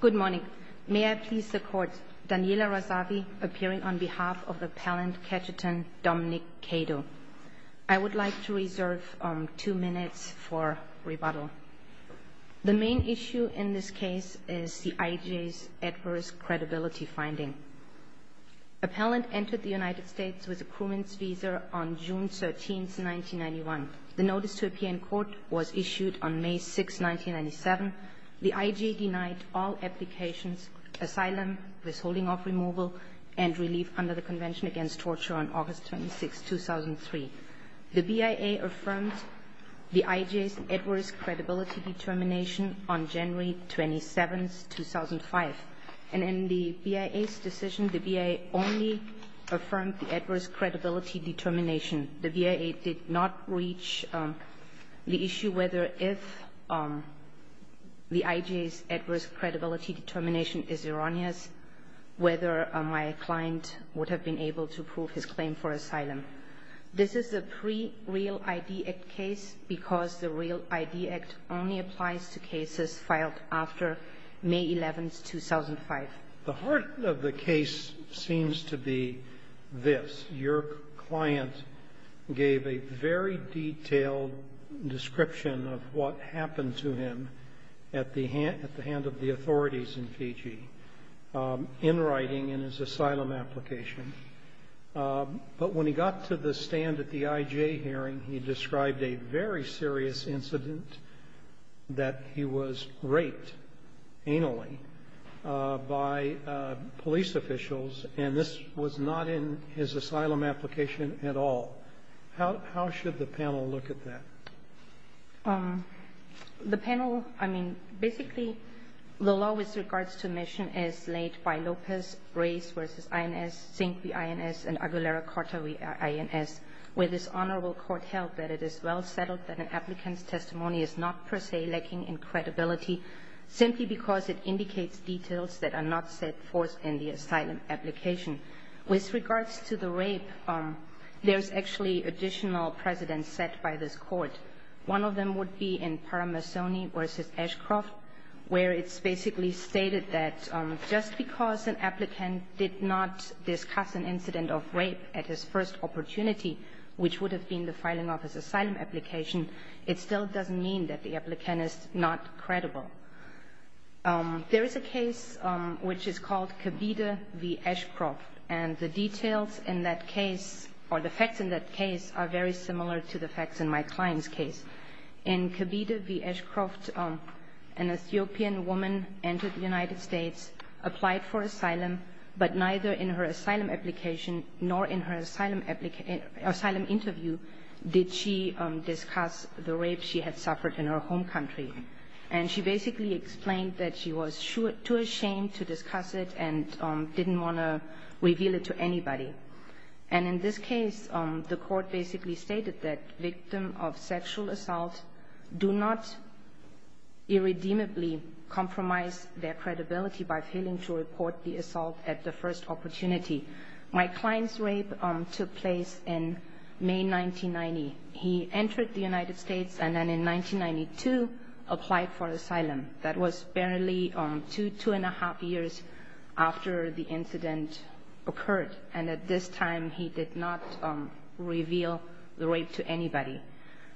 Good morning. May I please the Court, Daniela Razavi appearing on behalf of Appellant Ketchetan Dominic Kado. I would like to reserve two minutes for rebuttal. The main issue in this case is the IJ's adverse credibility finding. Appellant entered the United States with a crewman's visa on June 13, 1991. The notice to appear in court was issued on May 6, 1997. The IJ denied all applications, asylum, withholding of removal, and relief under the Convention Against Torture on August 26, 2003. The BIA affirmed the IJ's adverse credibility determination on January 27, 2005. And in the BIA's decision, the BIA only affirmed the adverse credibility determination. The BIA did not reach the issue whether if the IJ's adverse credibility determination is erroneous, whether my client would have been able to prove his claim for asylum. This is a pre-Real ID Act case because the Real ID Act only applies to cases filed after May 11, 2005. The heart of the case seems to be this. Your client gave a very detailed description of what happened to him at the hand of the authorities in Fiji, in writing, in his asylum application. But when he got to the stand at the IJ hearing, he described a very serious incident that he was raped, anally, by police officials, and this was not in his asylum application at all. How should the panel look at that? The panel, I mean, basically the law with regards to mission is laid by Lopez, Reyes v. INS, Sink v. INS, and Aguilera-Cortez v. INS, where this honorable court held that it is well settled that an applicant's testimony is not per se lacking in credibility, simply because it indicates details that are not set forth in the asylum application. With regards to the rape, there's actually additional precedents set by this court. One of them would be in Paramasoni v. Ashcroft, where it's basically stated that just because an applicant did not discuss an incident of rape at his first opportunity, which would have been the filing of his asylum application, it still doesn't mean that the applicant is not credible. There is a case which is called Kabide v. Ashcroft, and the details in that case or the facts in that case are very similar to the facts in my client's case. In Kabide v. Ashcroft, an Ethiopian woman entered the United States, applied for asylum, but neither in her asylum application nor in her asylum interview did she discuss the rape she had suffered in her home country. And she basically explained that she was too ashamed to discuss it and didn't want to reveal it to anybody. And in this case, the court basically stated that victims of sexual assault do not irredeemably compromise their credibility by failing to report the assault at the first opportunity. My client's rape took place in May 1990. He entered the United States and then in 1992 applied for asylum. That was barely two, two and a half years after the incident occurred, and at this time he did not reveal the rape to anybody.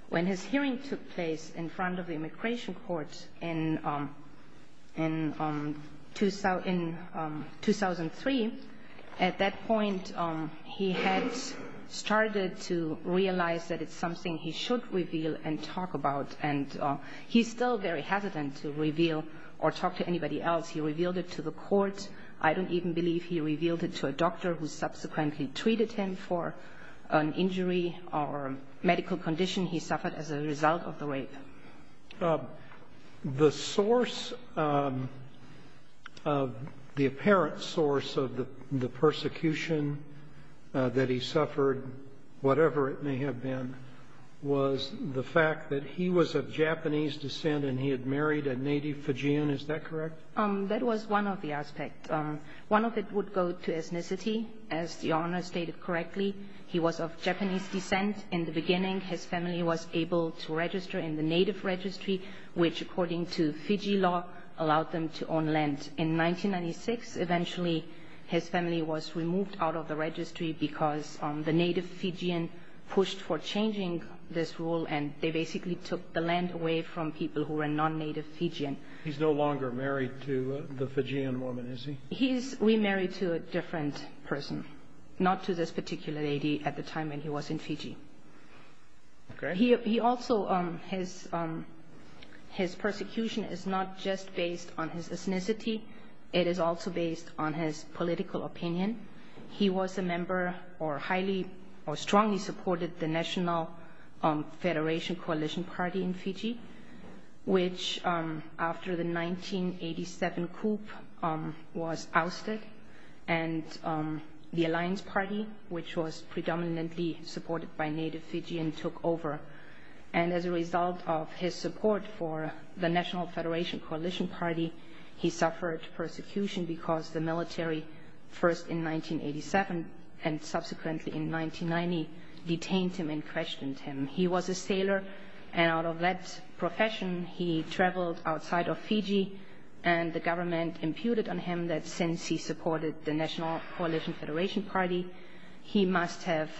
When his hearing took place in front of the immigration court in 2003, at that point he had started to realize that it's something he should reveal and talk about, and he's still very hesitant to reveal or talk to anybody else. He revealed it to the court. I don't even believe he revealed it to a doctor who subsequently treated him for an injury or medical condition. He suffered as a result of the rape. The source of the apparent source of the persecution that he suffered, whatever it may have been, was the fact that he was of Japanese descent and he had married a native Fujian. Is that correct? That was one of the aspects. One of it would go to ethnicity. As Your Honor stated correctly, he was of Japanese descent. In the beginning his family was able to register in the native registry, which according to Fiji law allowed them to own land. In 1996 eventually his family was removed out of the registry because the native Fijian pushed for changing this rule and they basically took the land away from people who were non-native Fijian. He's no longer married to the Fijian woman, is he? He's remarried to a different person, not to this particular lady at the time when he was in Fiji. His persecution is not just based on his ethnicity. It is also based on his political opinion. He was a member or strongly supported the National Federation Coalition Party in Fiji, which after the 1987 coup was ousted and the Alliance Party, which was predominantly supported by native Fijian, took over. As a result of his support for the National Federation Coalition Party, he suffered persecution because the military, first in 1987 and subsequently in 1990, detained him and questioned him. He was a sailor and out of that profession he traveled outside of Fiji and the government imputed on him that since he supported the National Coalition Federation Party, he must have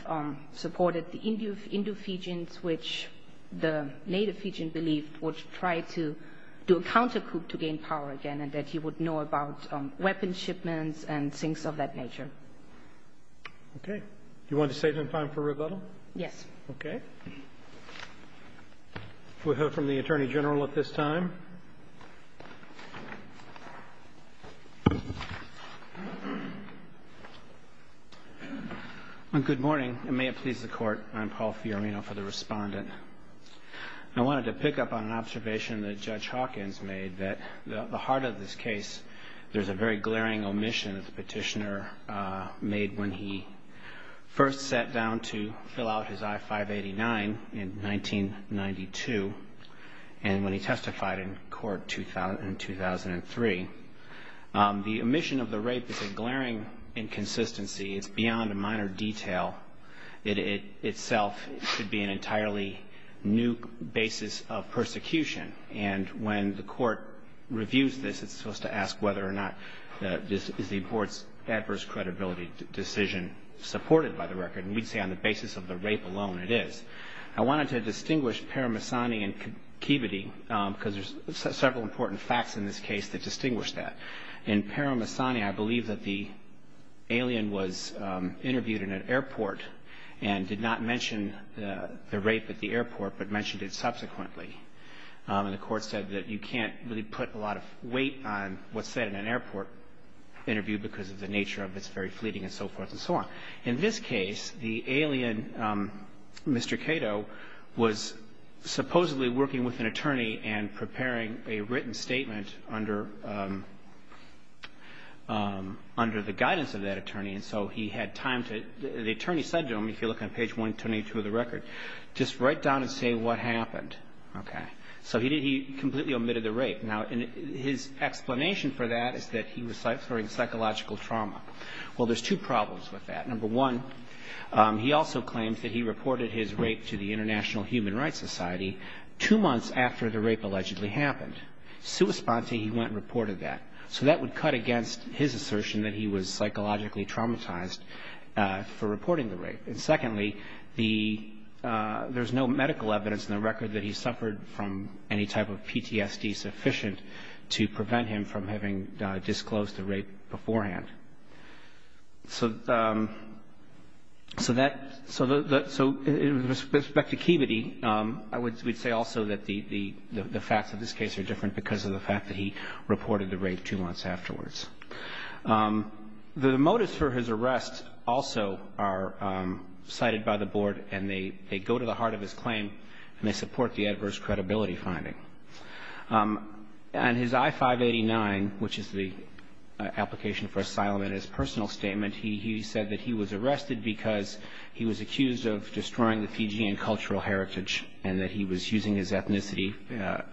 supported the Indo-Fijians, which the native Fijian believed would try to do a countercoup to gain power again and that he would know about weapons shipments and things of that nature. Okay. Do you want to save some time for rebuttal? Yes. Okay. We'll hear from the Attorney General at this time. Good morning and may it please the Court. I'm Paul Fiorino for the Respondent. I wanted to pick up on an observation that Judge Hawkins made that at the heart of this case there's a very glaring omission that the petitioner made when he first sat down to fill out his I-589 in 1992 and when he testified in court in 2003. The omission of the rape is a glaring inconsistency. It's beyond a minor detail. It itself should be an entirely new basis of persecution and when the Court reviews this, it's supposed to ask whether or not this is the Court's adverse credibility decision supported by the record and we'd say on the basis of the rape alone it is. I wanted to distinguish Paramahsani and Kibiti because there's several important facts in this case that distinguish that. In Paramahsani, I believe that the alien was interviewed in an airport and did not mention the rape at the airport but mentioned it subsequently and the Court said that you can't really put a lot of weight on what's said in an airport interview because of the nature of it's very fleeting and so forth and so on. In this case, the alien, Mr. Cato, was supposedly working with an attorney and preparing a written statement under the guidance of that attorney and so he had time to, the attorney said to him, if you look on page 122 of the record, just write down and say what happened. So he completely omitted the rape. Now his explanation for that is that he was suffering psychological trauma. Well, there's two problems with that. Number one, he also claims that he reported his rape to the International Human Rights Society two months after the rape allegedly happened. Sui sponte, he went and reported that. So that would cut against his assertion that he was psychologically traumatized for reporting the rape. And secondly, the, there's no medical evidence in the record that he suffered from any type of PTSD sufficient to prevent him from having disclosed the rape beforehand. So that, so the, so with respect to Kibbity, I would say also that the facts of this case are different because of the fact that he reported the rape two months afterwards. The motives for his arrest also are cited by the board and they go to the heart of his claim and they support the adverse credibility finding. And his I-589, which is the application for asylum, in his personal statement, he said that he was arrested because he was accused of destroying the Fijian cultural heritage and that he was using his ethnicity,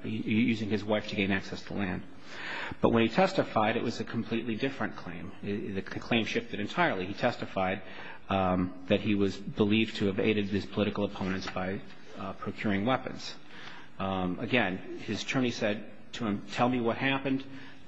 using his wife to gain access to land. But when he testified, it was a completely different claim. The claim shifted entirely. He testified that he was believed to have aided his political opponents by procuring weapons. Again, his attorney said to him, tell me what happened.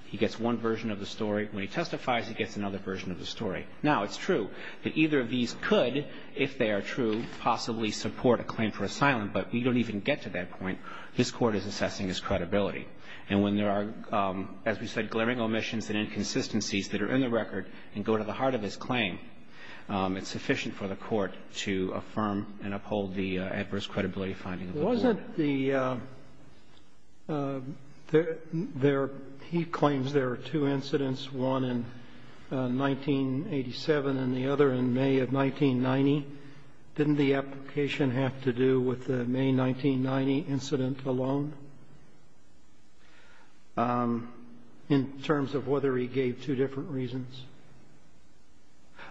He gets one version of the story. When he testifies, he gets another version of the story. Now, it's true that either of these could, if they are true, possibly support a claim for asylum, but we don't even get to that point. This court is assessing his credibility. And when there are, as we said, glaring omissions and inconsistencies that are in the record and go to the heart of his claim, it's sufficient for the court to affirm and uphold the adverse credibility finding of the court. Sotomayor He claims there are two incidents, one in 1987 and the other in May of 1990. Didn't the application have to do with the May 1990 incident alone in terms of whether he gave two different reasons?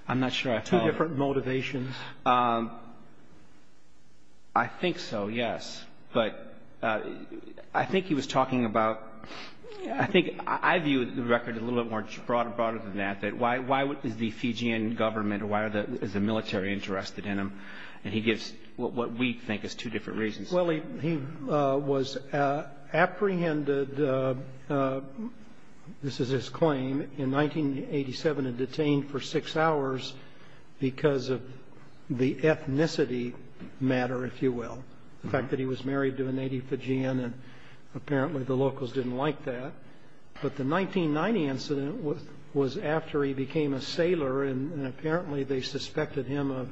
I'm not sure I follow. Two different motivations. I think so, yes. But I think he was talking about ‑‑ I think I view the record a little bit more broader than that, why is the Fijian government or why is the military interested in him? And he gives what we think is two different reasons. Well, he was apprehended, this is his claim, in 1987 and detained for six hours because of the ethnicity matter, if you will, the fact that he was married to a native Fijian, and apparently the locals didn't like that. But the 1990 incident was after he became a sailor, and apparently they suspected him of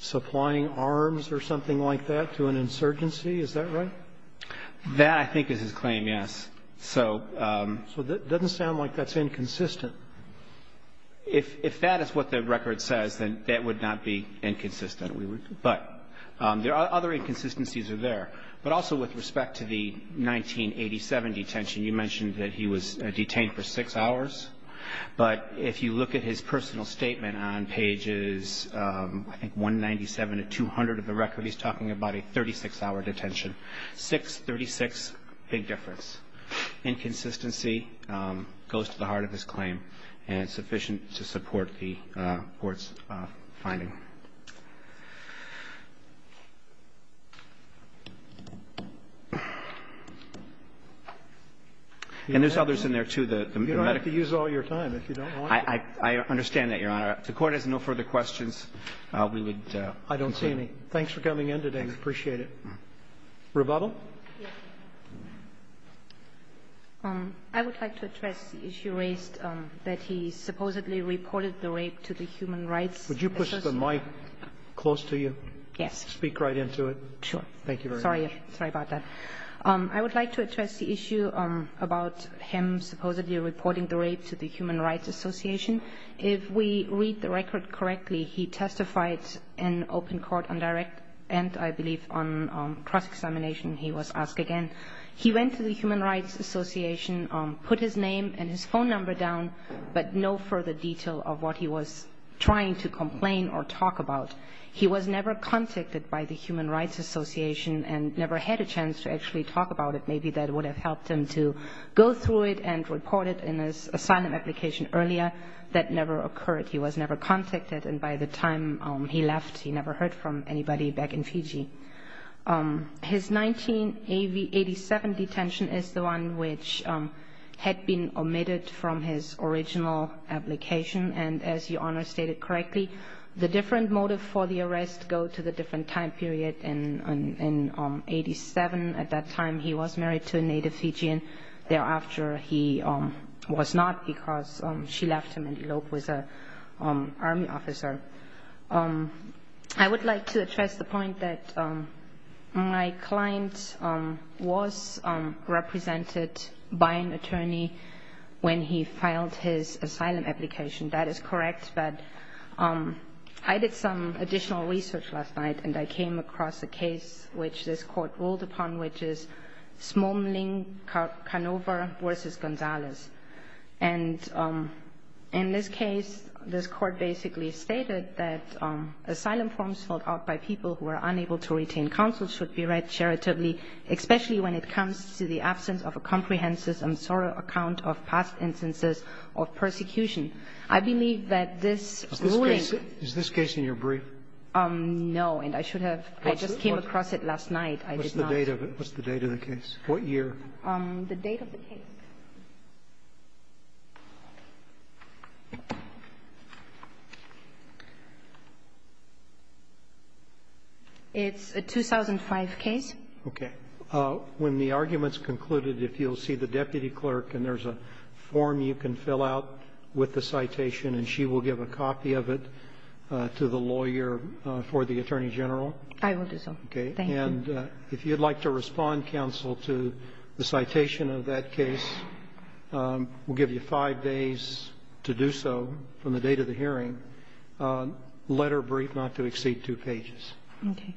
supplying arms or something like that to an insurgency. Is that right? That, I think, is his claim, yes. So ‑‑ So it doesn't sound like that's inconsistent. If that is what the record says, then that would not be inconsistent. But there are other inconsistencies there. But also with respect to the 1987 detention, you mentioned that he was detained for six hours. But if you look at his personal statement on pages I think 197 to 200 of the record, he's talking about a 36‑hour detention. Six, 36, big difference. Inconsistency goes to the heart of his claim, and it's sufficient to support the court's finding. And there's others in there, too, the medical ‑‑ You don't have to use all your time if you don't want to. I understand that, Your Honor. If the Court has no further questions, we would concede. I don't see any. Thanks for coming in today. I appreciate it. Rebuttal? Yes. I would like to address the issue raised that he supposedly reported the rape to the Human Rights Association. Would you push the mic close to you? Yes. Speak right into it. Sure. Thank you very much. Sorry. Sorry about that. I would like to address the issue about him supposedly reporting the rape to the Human Rights Association. If we read the record correctly, he testified in open court on direct and, I believe, on cross‑examination he was asked again. He went to the Human Rights Association, put his name and his phone number down, but no further detail of what he was trying to complain or talk about. He was never contacted by the Human Rights Association and never had a chance to actually talk about it. Maybe that would have helped him to go through it and report it in his asylum application earlier. That never occurred. He was never contacted, and by the time he left, he never heard from anybody back in Fiji. His 1987 detention is the one which had been omitted from his original application. And as Your Honor stated correctly, the different motive for the arrest go to the different time period. In 1987, at that time, he was married to a native Fijian. Thereafter, he was not because she left him in Elope with an Army officer. I would like to address the point that my client was represented by an attorney when he filed his asylum application. That is correct, but I did some additional research last night, and I came across a case which this court ruled upon, which is Smoling Canova v. Gonzalez. And in this case, this court basically stated that asylum forms filled out by people who are unable to retain counsel should be read charitably, especially when it comes to the absence of a comprehensive and thorough account of past instances of persecution. I believe that this ruling – Is this case in your brief? No, and I should have – I just came across it last night. I did not – What's the date of it? What's the date of the case? What year? The date of the case. It's a 2005 case. Okay. When the argument's concluded, if you'll see the deputy clerk, and there's a form you can fill out with the citation, and she will give a copy of it to the lawyer for the attorney general? I will do so. Thank you. And if you'd like to respond, counsel, to the citation of that case, we'll give you 5 days to do so from the date of the hearing, letter brief, not to exceed 2 pages. Okay.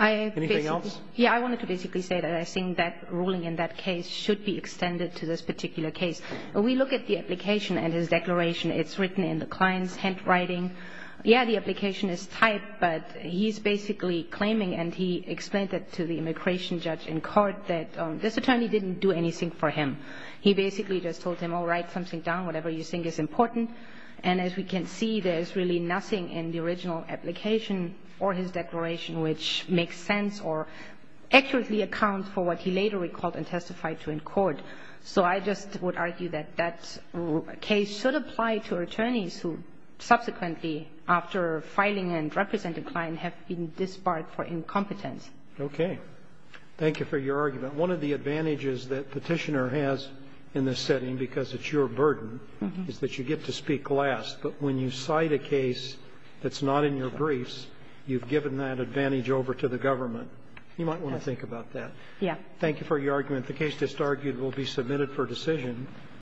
Anything else? Yeah, I wanted to basically say that I think that ruling in that case should be extended to this particular case. When we look at the application and his declaration, it's written in the client's handwriting. Yeah, the application is typed, but he's basically claiming, and he explained that to the immigration judge in court, that this attorney didn't do anything for him. He basically just told him, all right, something down, whatever you think is important. And as we can see, there's really nothing in the original application or his declaration which makes sense or accurately accounts for what he later recalled and testified to in court. So I just would argue that that case should apply to attorneys who subsequently, after filing and representing the client, have been disbarred for incompetence. Okay. Thank you for your argument. One of the advantages that Petitioner has in this setting, because it's your burden, is that you get to speak last, but when you cite a case that's not in your briefs, you've given that advantage over to the government. Yeah. Thank you for your argument. The case that's argued will be submitted for decision.